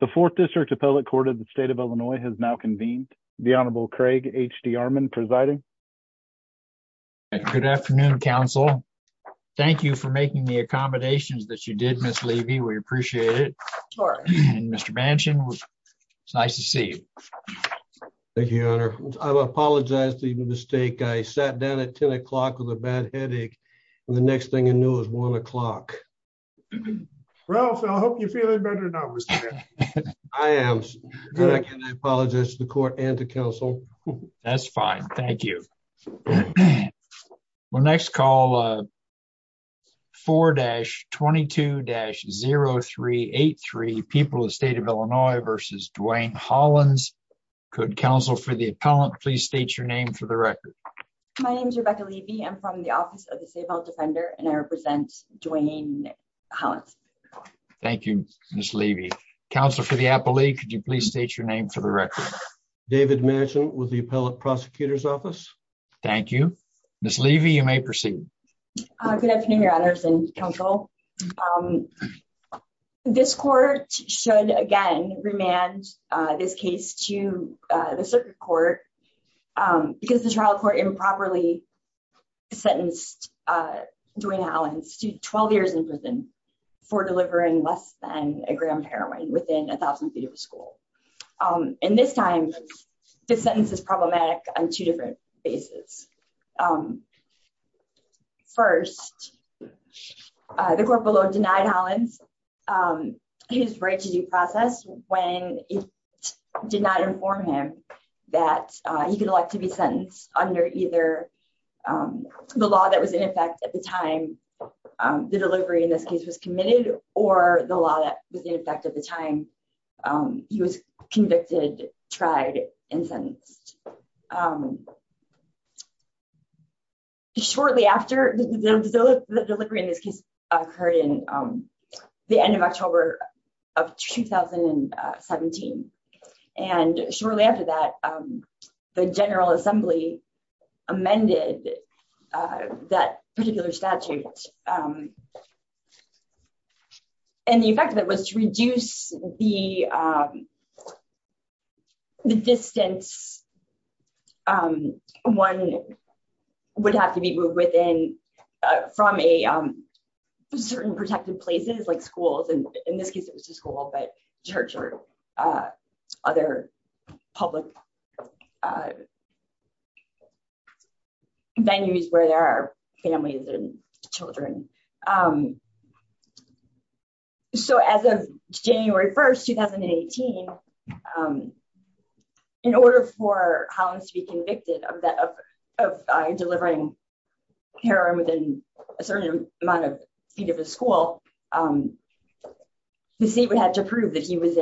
The Fourth District Appellate Court of the State of Illinois has now convened. The Honorable Craig H.D. Armond presiding. Good afternoon, counsel. Thank you for making the accommodations that you did, Miss Levy. We appreciate it. Mr. Bansion, it's nice to see you. Thank you, your honor. I apologize for the mistake. I sat down at 10 o'clock with a bad headache and the next thing I knew it was one o'clock. Ralph, I hope you're feeling better now, Mr. Bansion. I am. I apologize to the court and the counsel. That's fine. Thank you. We'll next call 4-22-0383, People of the State of Illinois v. Dwayne Hollins. Could counsel for the appellant please state your name for the record? My name is Rebecca Levy. I'm from the Office of the Safe House Defender and I represent Dwayne Hollins. Thank you, Miss Levy. Counsel for the appellee, could you please state your name for the record? David Bansion with the Appellate Prosecutor's Office. Thank you. Miss Levy, you may proceed. Good afternoon, your honors and counsel. This court should again remand this case to the circuit court because the trial court improperly sentenced Dwayne Hollins to 12 years in prison for delivering less than a gram of heroin within 1,000 feet of a school. And this time, this sentence is problematic on two different bases. First, the court below denied Hollins his right to due process when it did not inform him that he could elect to be sentenced under either the law that was in effect at the time the delivery in this case was committed or the law that was in effect at the time he was convicted, tried, and sentenced. Shortly after the delivery in this case occurred in the end of October of 2017, and shortly after that, the General Assembly amended that particular statute. And the effect of it was to reduce the distance one would have to be moved within from certain protected places like schools, and in this case it was a school, but church or other public venues where there are families and children. So as of January 1, 2018, in order for Hollins to be convicted of delivering heroin within a certain amount of feet of a school, the seat would have to prove that he was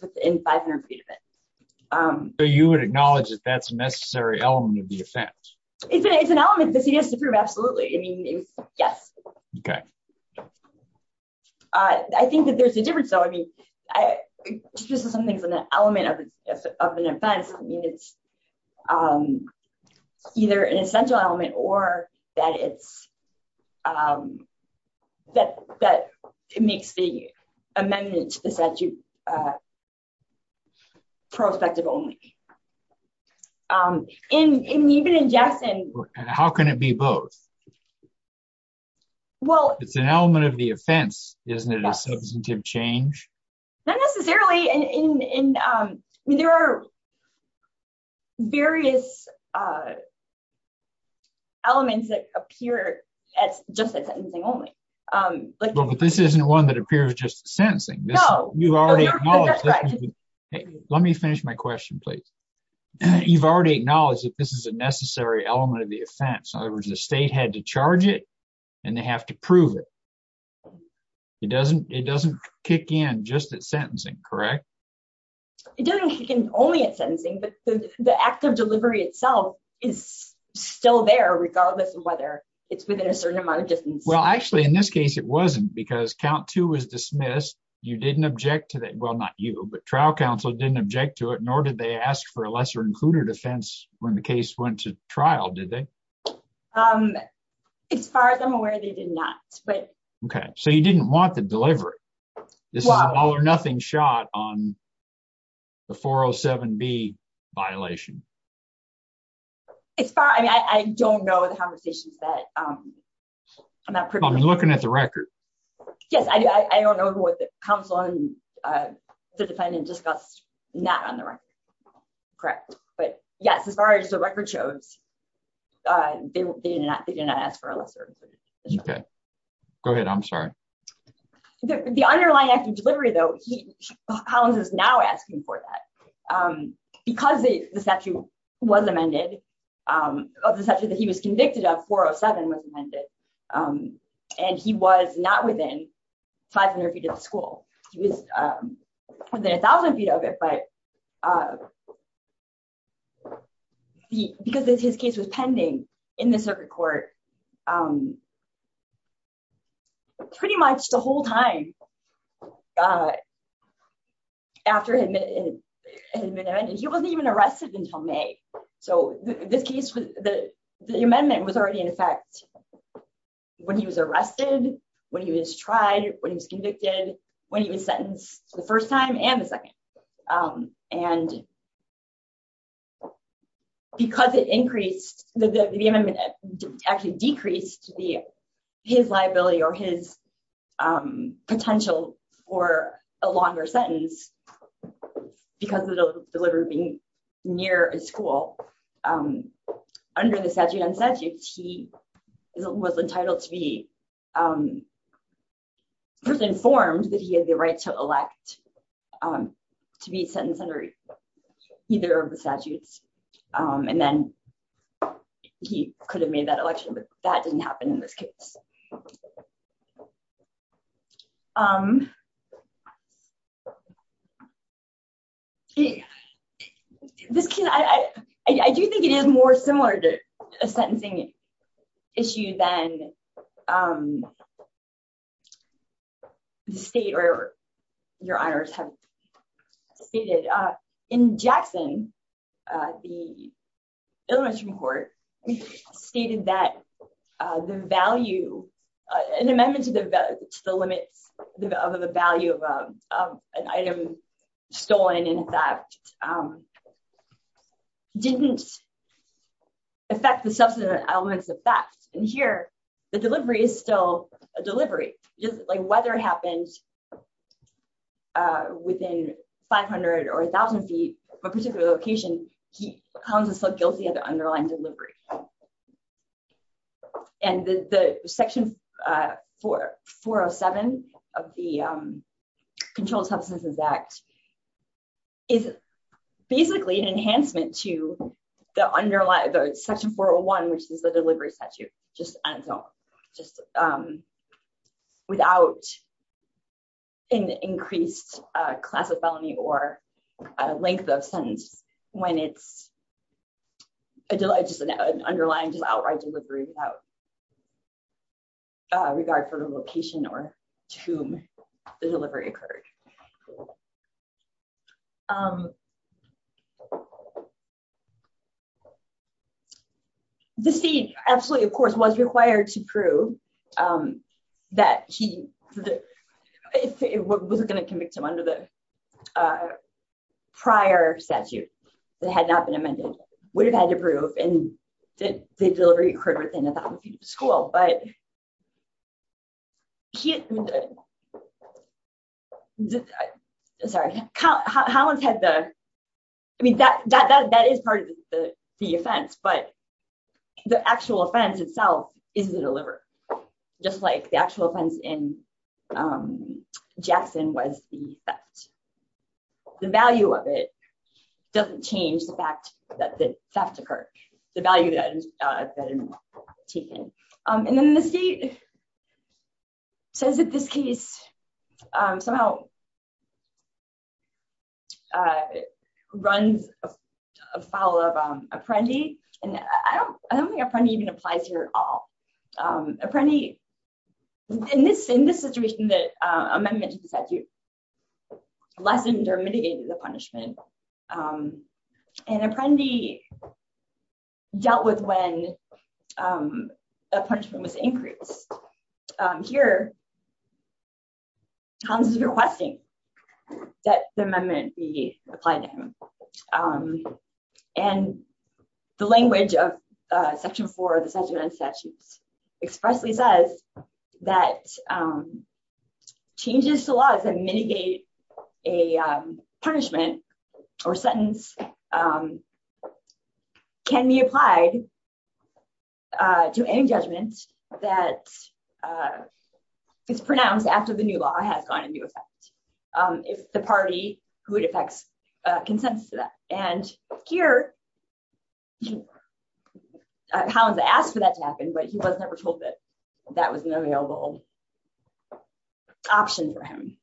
within 500 feet of it. So you would acknowledge that that's a necessary element of the offense? It's an element that he has to prove, absolutely. I mean, yes. Okay. I think that there's a difference though. I mean, just something's an element of an offense. I mean, it's either an essential element or that it's, that it makes the amendment to the statute prospective only. And even in Jackson... How can it be both? It's an element of the offense. Isn't it a substantive change? Not necessarily. There are various elements that appear as just sentencing only. But this isn't one that appears just sentencing. Let me finish my question, please. You've already acknowledged that this is a necessary element of and they have to prove it. It doesn't kick in just at sentencing, correct? It doesn't kick in only at sentencing, but the act of delivery itself is still there regardless of whether it's within a certain amount of distance. Well, actually in this case, it wasn't because count two was dismissed. You didn't object to that. Well, not you, but trial counsel didn't object to it, nor did they ask for a lesser included offense when the case went to trial, did they? Um, as far as I'm aware, they did not, but... Okay, so you didn't want the delivery. This is an all or nothing shot on the 407B violation. As far, I mean, I don't know the conversations that, um, I'm not... I'm looking at the record. Yes, I do. I don't know who the counsel and the defendant discussed not on the record, correct, but yes, as far as the record shows, uh, they did not ask for a lesser. Okay, go ahead. I'm sorry. The underlying act of delivery though, Collins is now asking for that, um, because the statute was amended, um, of the statute that he was convicted of, 407 was amended, um, and he was not within 500 feet of the school. He was, um, within a thousand feet of it, but, uh, because his case was pending in the circuit court, um, pretty much the whole time, uh, after it had been amended, he wasn't even arrested until May. So this case, the amendment was already in effect when he was arrested, when he was tried, when he was convicted, when he was sentenced the first time and the second, um, and because it increased, the amendment actually decreased the, his liability or his, um, potential for a longer sentence because of the delivery being near a school, um, the statute, he was entitled to be, um, first informed that he had the right to elect, um, to be sentenced under either of the statutes, um, and then he could have made that election, but that didn't happen in this case. Um, okay, this case, I, I do think it is more similar to a sentencing issue than, um, the state or your honors have stated, uh, in Jackson, uh, the Illinois Supreme Court stated that, uh, the value, uh, an amendment to the, to the limits of the value of, um, of an item stolen in fact, um, didn't affect the substance elements of theft. And here, the delivery is still a delivery, just like whether it happened, uh, within 500 or a thousand feet of a particular location, he, Collins is still guilty of the underlying delivery. And the, the section, uh, 407 of the, um, Controlled Substances Act is basically an enhancement to the underlying, the section 401, which is the delivery statute, just on its own, just, um, without an increased, uh, class of felony or a length of sentence when it's a, just an underlying, just outright delivery without, uh, regard for the location or to whom the delivery occurred. Um, the state absolutely, of course, was required to prove, um, that he, if it wasn't going to convict him under the, uh, prior statute that had not been amended, would have had to prove, and did the delivery occurred within a thousand feet of the school, but he, sorry, Collins had the, I mean, that, that, that, that is part of the, the offense, but the actual offense itself is the delivery, just like the actual offense in, um, Jackson was the theft. The value of it doesn't change the fact that the theft occurred, the value that, uh, taken. Um, and then the state says that this case, um, somehow, uh, runs afoul of, um, Apprendi, and I don't, I don't think Apprendi even applies here at all. Um, Apprendi, in this, in this situation that, um, amendment to the statute lessened or mitigated the punishment, um, and Apprendi dealt with when, um, a punishment was increased. Um, here, Collins is requesting that the amendment be applied to him, um, and the language of, uh, section four of the sentiment and statutes expressly says that, um, changes to laws that punishment or sentence, um, can be applied, uh, to any judgment that, uh, is pronounced after the new law has gone into effect, um, if the party who it affects, uh, consents to that. And here, Collins asked for that to happen, but he was never told that that was an available option for him.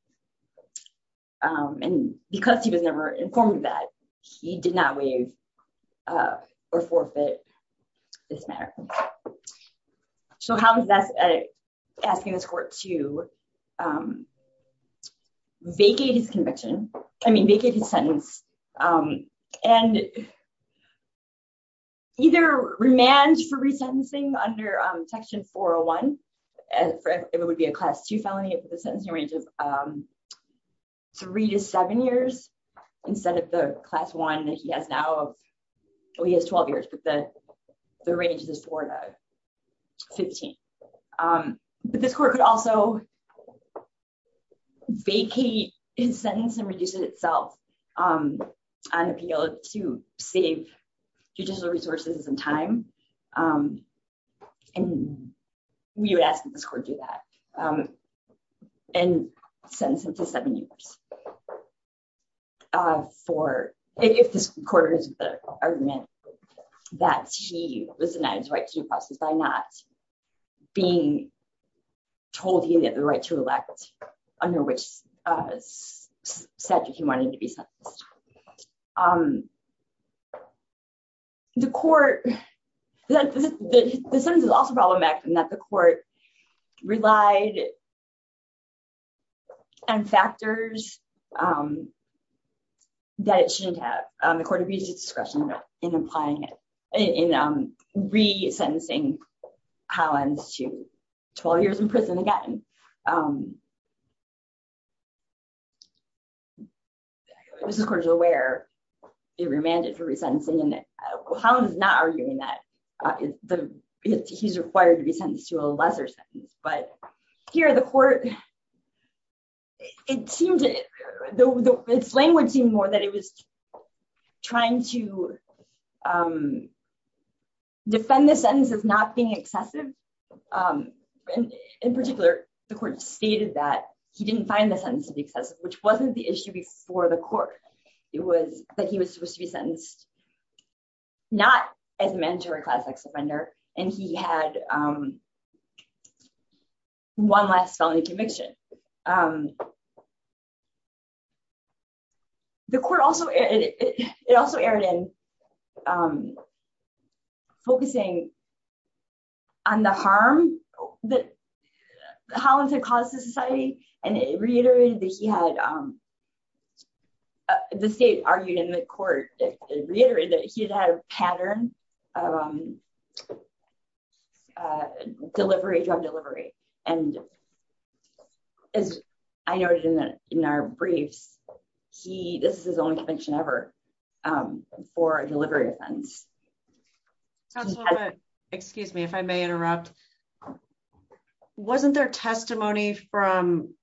Um, and because he was never informed of that, he did not waive, uh, or forfeit this matter. So, Collins is asking this court to, um, vacate his conviction, I mean, vacate his class two felony for the sentencing range of, um, three to seven years, instead of the class one that he has now, oh, he has 12 years, but the, the range is four to 15. Um, but this court could also vacate his sentence and reduce it itself, um, on appeal to save judicial resources and time, um, and we would ask that this court do that, um, and sentence him to seven years, uh, for, if this court agrees with the argument that he was denied his right to due process by not being told he had the right to elect under which, uh, statute he wanted to be sentenced. Um, the court, the sentence is also problematic in that the court relied on factors, um, that it shouldn't have. Um, the court abused its discretion in implying it, in, um, resentencing Collins to 12 years in prison again. Um, where it remanded for resentencing and how it was not arguing that, uh, the, he's required to be sentenced to a lesser sentence, but here the court, it seemed to the, the, it's languaging more that it was trying to, um, defend the sentence as not being excessive. Um, and in particular, the court stated that he didn't find the sentence excessive, which wasn't the issue before the court. It was that he was supposed to be sentenced not as a mandatory class X offender. And he had, um, one last felony conviction. Um, the court also, it also erred in, um, focusing on the harm that Collins had caused to society. And it reiterated that he had, um, the state argued in the court reiterated that he had a pattern, um, uh, delivery, drug delivery. And as I noted in the, in our briefs, he, this is his only conviction ever, um, for a delivery offense. So, excuse me, if I may interrupt, wasn't there testimony from,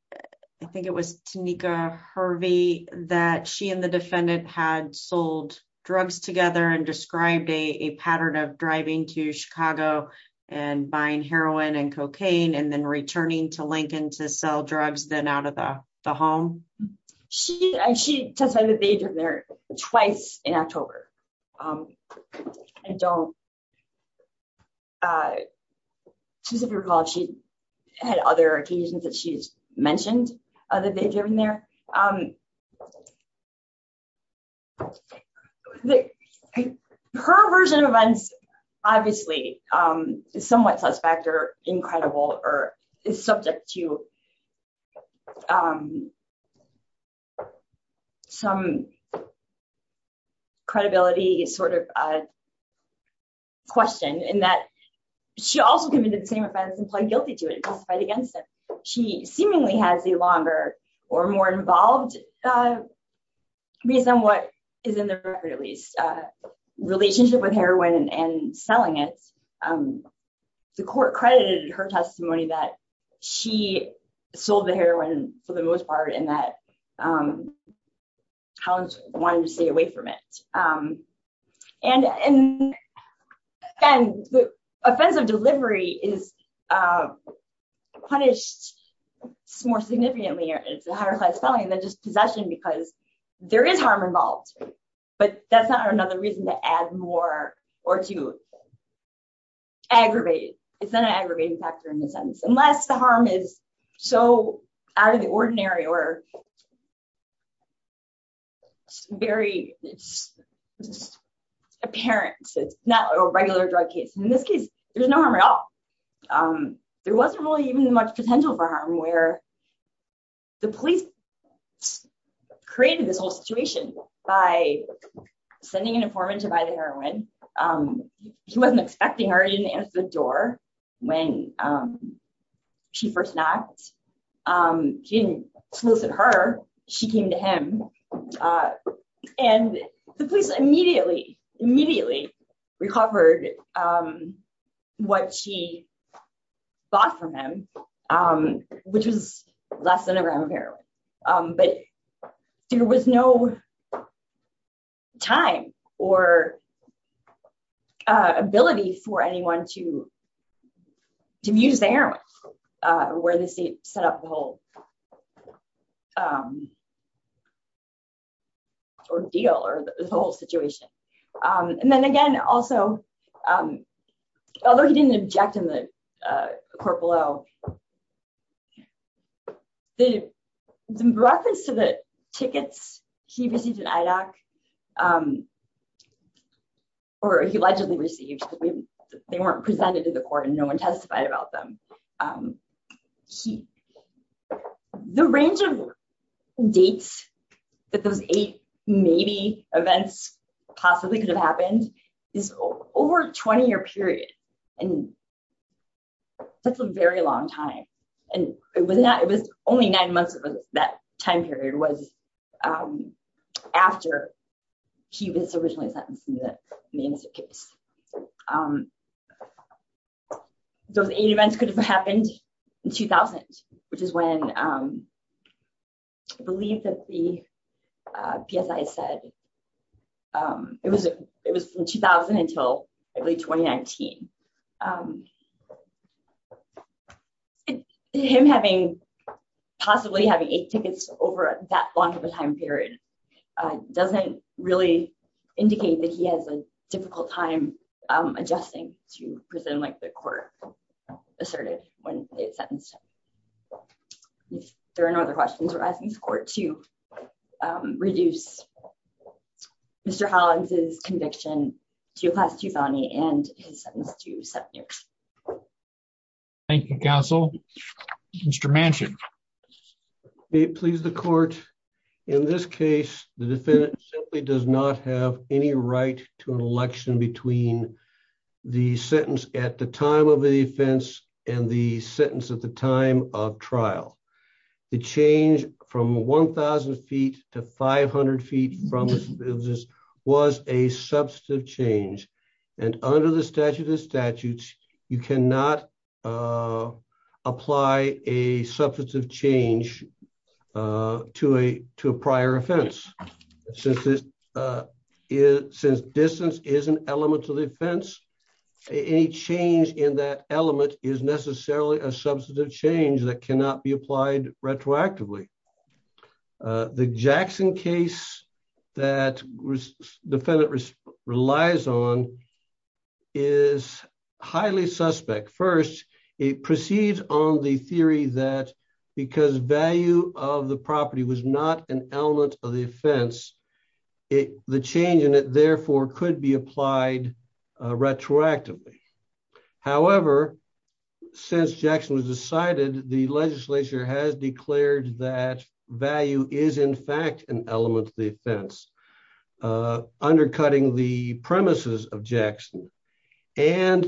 I think it was Tanika Harvey that she and the defendant had sold drugs together and described a pattern of driving to Chicago and buying heroin and cocaine, and then returning to Lincoln to sell drugs, then out of the home? She, she testified that they had driven there twice in October. Um, I don't, uh, specifically recall if she had other occasions that she's mentioned that they've driven there. Um, her version of events, obviously, um, is somewhat suspect or incredible or is subject to, um, some credibility is sort of a question in that she also committed the same offense and pled guilty to it and testified against it. She seemingly has a longer or more involved, uh, reason what is in the record, at least, uh, relationship with heroin and selling it. Um, the court credited her testimony that she sold the heroin for the most part and that, um, Collins wanted to stay away from it. Um, and, and, and the offensive delivery is, uh, punished more significantly or it's a higher class felony than just possession because there is harm involved, but that's not another reason to add more or to aggravate it. It's not an aggravating factor in the sense, unless the harm is so out of the ordinary or very apparent, it's not a regular drug case. In this case, there's no harm at all. Um, police created this whole situation by sending an informant to buy the heroin. Um, he wasn't expecting her. He didn't answer the door when, um, she first knocked, um, she didn't solicit her. She came to him, uh, and the police immediately, immediately recovered, um, what she bought from him, um, which was less than a gram of heroin. Um, but there was no time or, uh, ability for anyone to, to use the heroin, uh, where the state set up the whole, um, ordeal or the whole situation. Um, and then again, also, um, although he didn't object in the, uh, court below, the reference to the tickets he received at IDOC, um, or he allegedly received, they weren't presented to the court and no one testified about them. Um, he, the range of dates that those eight, maybe, events possibly could have happened is over a 20 year period. And that's a very long time. And it was not, it was only nine months of that time period was, um, after he was originally sentenced in the Main Street case. Um, those eight events could have happened in 2000, which is when, um, I believe that the, uh, PSI said, um, it was, it was from 2000 until I believe 2019. Um, and him having, possibly having eight tickets over that long of a time period, uh, doesn't really indicate that he has a difficult time, um, to present like the court asserted when it sentenced him. If there are no other questions, we're asking the court to, um, reduce Mr. Hollins' conviction to a class two felony and his sentence to seven years. Thank you, counsel. Mr. Manchin. May it please the court, in this case, the sentence at the time of the offense and the sentence at the time of trial, the change from 1000 feet to 500 feet from this was a substantive change. And under the statute of statutes, you cannot, uh, apply a substantive change, uh, to a, to a prior offense. Since this, uh, since distance is an element to the offense, any change in that element is necessarily a substantive change that cannot be applied retroactively. Uh, the Jackson case that defendant relies on is highly suspect. First, it proceeds on the theory that because value of the property was not an element of the offense, it, the change in it therefore could be applied, uh, retroactively. However, since Jackson was decided, the legislature has declared that value is in fact an element of the offense, uh, undercutting the premises of Jackson. And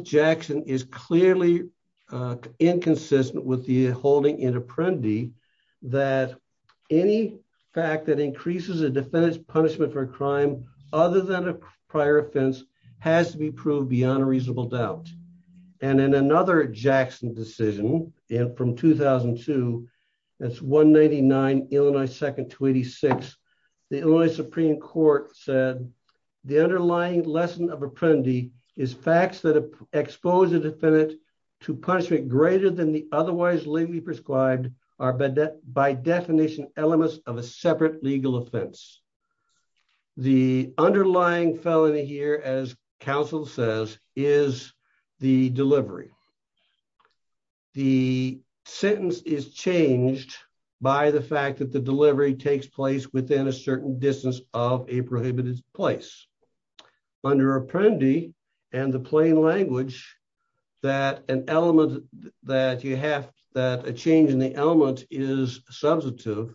any fact that increases a defendant's punishment for a crime other than a prior offense has to be proved beyond a reasonable doubt. And in another Jackson decision in from 2002, that's one 99 Illinois second to 86. The only Supreme court said the underlying lesson of apprendee is facts that otherwise legally prescribed are by definition elements of a separate legal offense. The underlying felony here, as counsel says, is the delivery. The sentence is changed by the fact that the delivery takes place within a certain distance of a prohibited place. Under apprendee and the plain language that an element that you have that a change in the element is substantive.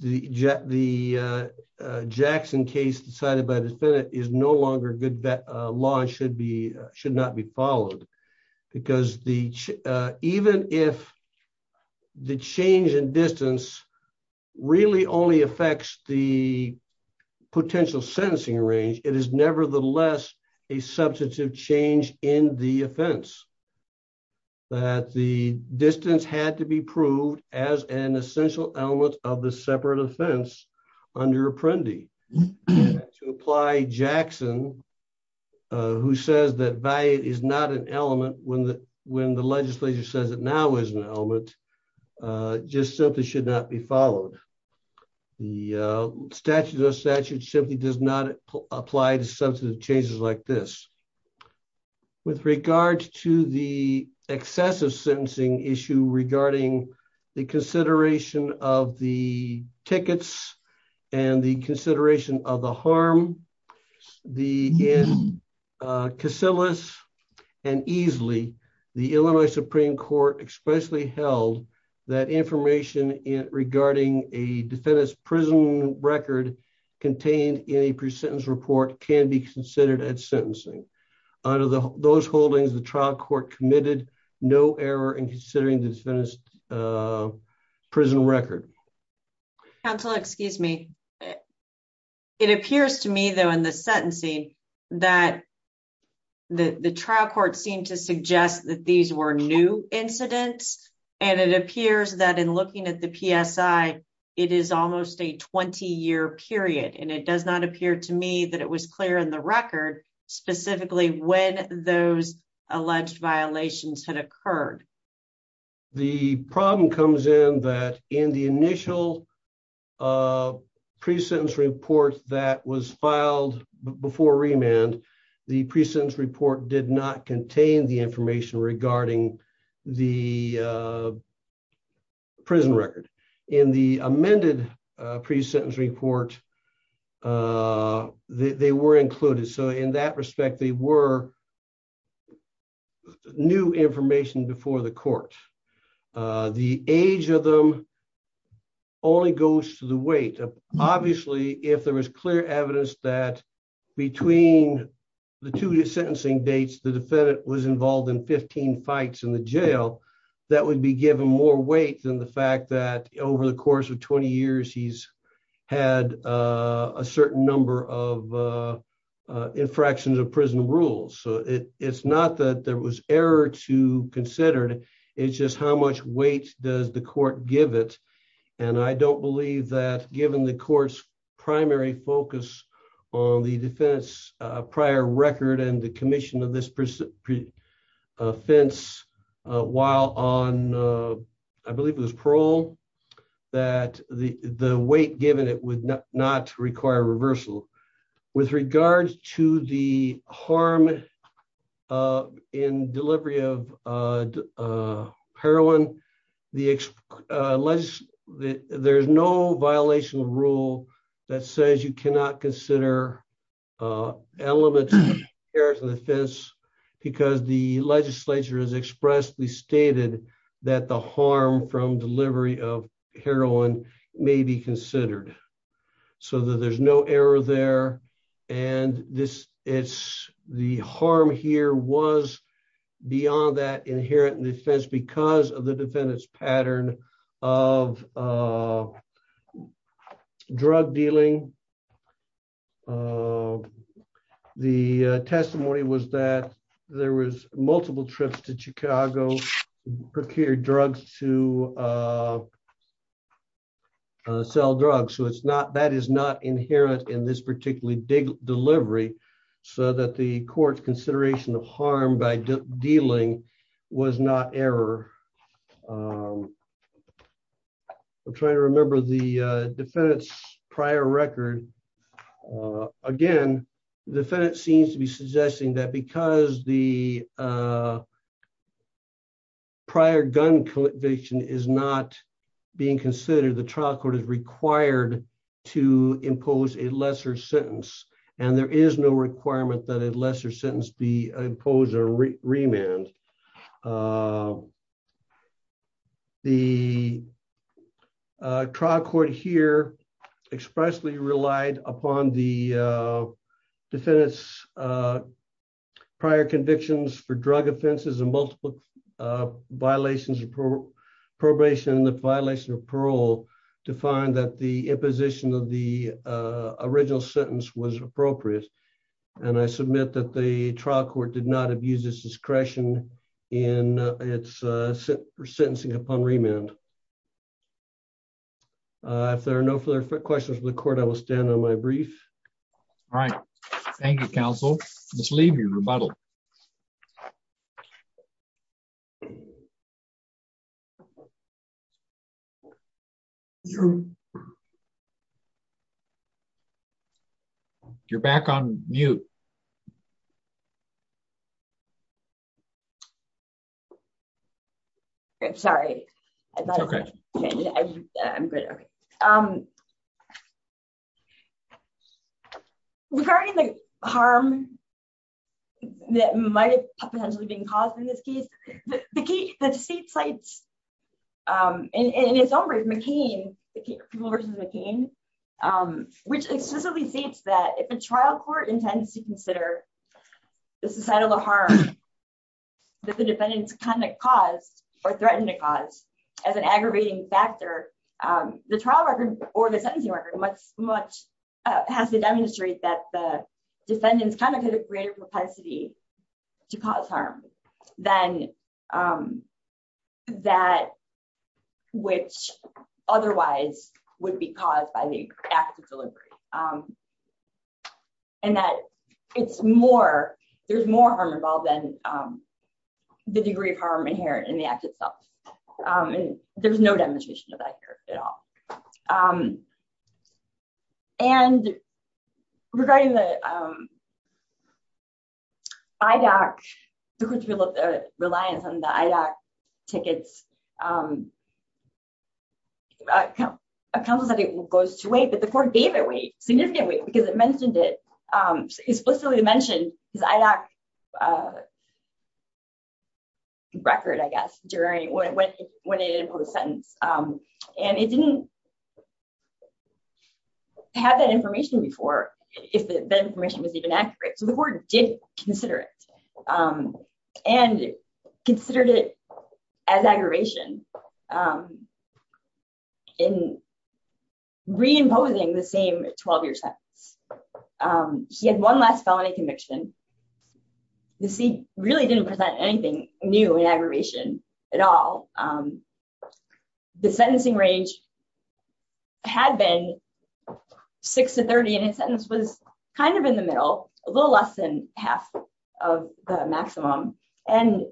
The jet, the, uh, uh, Jackson case decided by the defendant is no longer good bet. Uh, law should be, should not be followed because the, uh, even if the change in distance really only affects the potential sentencing range, it is nevertheless a substantive change in the offense that the distance had to be proved as an essential element of the separate offense under apprendee to apply Jackson, uh, who says that value is not an element when the, when the legislature says it now is an element, uh, just simply should not be followed. The, uh, statute of statute simply does not apply to substantive changes like this with regards to the excessive sentencing issue regarding the consideration of the tickets and the consideration of the harm, the, uh, Casillas and easily the Illinois Supreme Court expressly held that information in regarding a defendant's prison record contained in a pre-sentence report can be considered at sentencing under the, those holdings, the trial committed no error in considering this finished, uh, prison record. Counsel, excuse me. It appears to me though, in the sentencing that the trial court seemed to suggest that these were new incidents. And it appears that in looking at the PSI, it is almost a 20 year period. And it does not appear to me that it was clear in the record specifically when those alleged violations had occurred. The problem comes in that in the initial, uh, pre-sentence report that was filed before remand, the pre-sentence report did not contain the information regarding the, uh, prison record in the amended, uh, pre-sentence report. Uh, they, they were included. So in that respect, they were new information before the court. Uh, the age of them only goes to the weight. Obviously, if there was clear evidence that between the two sentencing dates, the defendant was involved in 15 fights in the jail, that would be given more weight than the fact that over the course of 20 years, he's had, uh, a certain number of, uh, uh, infractions of prison rules. So it it's not that there was error to consider. It's just how much weight does the court give it? And I don't believe that given the court's primary focus on the defense, uh, prior record and the commission of this, uh, offense, uh, while on, uh, I believe it was parole that the, the weight given it would not require reversal with regards to the harm, uh, in delivery of, uh, uh, heroin, the, uh, rule that says you cannot consider, uh, elements of the defense because the legislature has expressly stated that the harm from delivery of heroin may be considered so that there's no error there. And this it's the harm here was beyond that inherent defense because of the defendant's of, uh, drug dealing. Uh, the, uh, testimony was that there was multiple trips to Chicago, procured drugs to, uh, uh, sell drugs. So it's not, that is not inherent in this particularly big delivery so that the court's consideration of harm by dealing was not error. I'm trying to remember the, uh, defendant's prior record. Uh, again, the defendant seems to be suggesting that because the, uh, prior gun conviction is not being considered, the trial court is required to impose a lesser sentence. And there is no requirement that a uh, trial court here expressly relied upon the, uh, defendant's, uh, prior convictions for drug offenses and multiple, uh, violations of pro probation and the violation of parole to find that the imposition of the, uh, original sentence was appropriate. And I submit that the trial court did not have used this discretion in its, uh, sentencing upon remand. Uh, if there are no further questions for the court, I will stand on my brief. All right. Thank you, counsel. Just leave your rebuttal. You're back on mute. I'm sorry. Okay. I'm good. Okay. Um, regarding the harm that might have potentially been caused in this case, the key, the state cites, um, in its own brief, McCain, the people versus McCain, um, which explicitly states that if a trial court intends to consider the societal harm that the defendant's conduct caused or threatened to cause as an aggravating factor, um, the trial record or the sentencing record much, much, uh, has to demonstrate that the defendant's kind of had a greater propensity to cause harm than, um, that which otherwise would be caused by the act of delivery. Um, and that it's more, there's more harm involved than, um, the degree of harm inherent in the act itself. Um, and there's no demonstration of that here at all. Um, and regarding the, um, IDAC, the court's reliance on the IDAC tickets, um, a counsel said it goes to weight, but the court gave it weight, significant weight because it mentioned it, um, explicitly mentioned his IDAC, uh, during when, when, when it imposed sentence. Um, and it didn't have that information before if the information was even accurate. So the court did consider it, um, and considered it as aggravation, um, in reimposing the same 12-year sentence. Um, he had one last felony conviction. The seat really didn't present anything new in aggravation at all. Um, the sentencing range had been six to 30, and his sentence was kind of in the middle, a little less than half of the maximum. And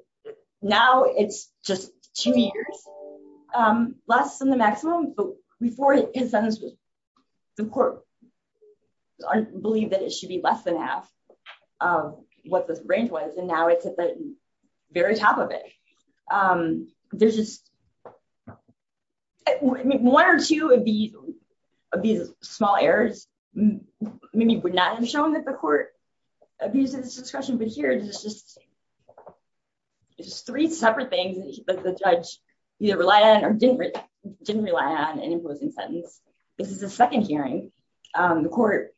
now it's just two years, um, less than the maximum, but before his sentence was, the court believed that it should be less than half of what the very top of it. Um, there's just, I mean, one or two of these, of these small errors maybe would not have shown that the court abused his discretion, but here it's just, it's three separate things that the judge either relied on or didn't, didn't rely on in imposing sentence. This is the second hearing. Um, the court,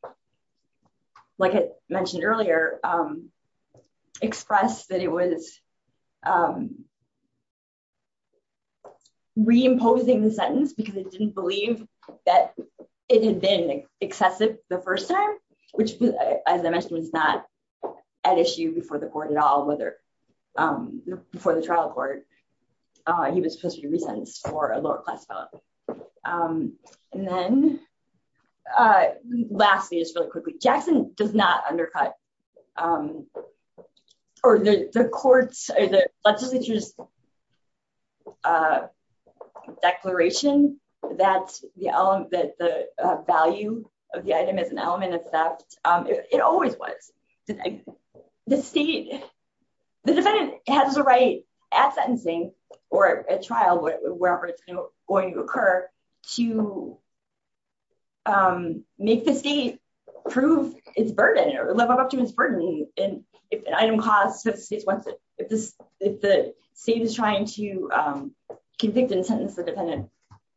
like I mentioned earlier, um, that it was, um, reimposing the sentence because it didn't believe that it had been excessive the first time, which as I mentioned was not at issue before the court at all, whether, um, before the trial court, uh, he was supposed to be re-sentenced for a lower class felony. Um, the court's or the legislature's, uh, declaration that the value of the item is an element of theft, um, it always was. The state, the defendant has the right at sentencing or at trial, wherever it's going to occur to, um, make the state prove its burden or live up to its burden. And if an item costs, if the state wants it, if this, if the state is trying to, um, convict and sentence the defendant,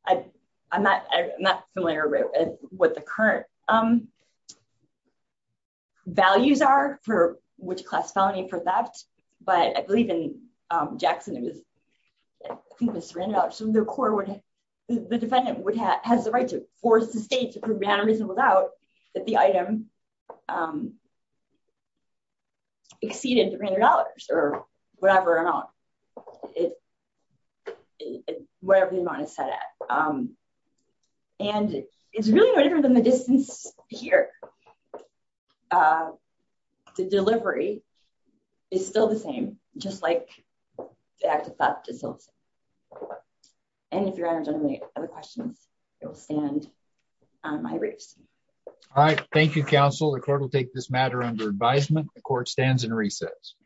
I, I'm not, I'm not familiar with what the current, um, values are for which class felony for theft, but I believe in, um, Jackson, it was, I think it was Sarandon, so the court would, the defendant would have, has the right to force the that the item, um, exceeded $300 or whatever amount it, whatever the amount is set at. Um, and it's really no different than the distance here. Uh, the delivery is still the same, just like the act of theft is still the same. And if you have any other questions, it will stand on my race. All right. Thank you. Counsel. The court will take this matter under advisement. The court stands in recess.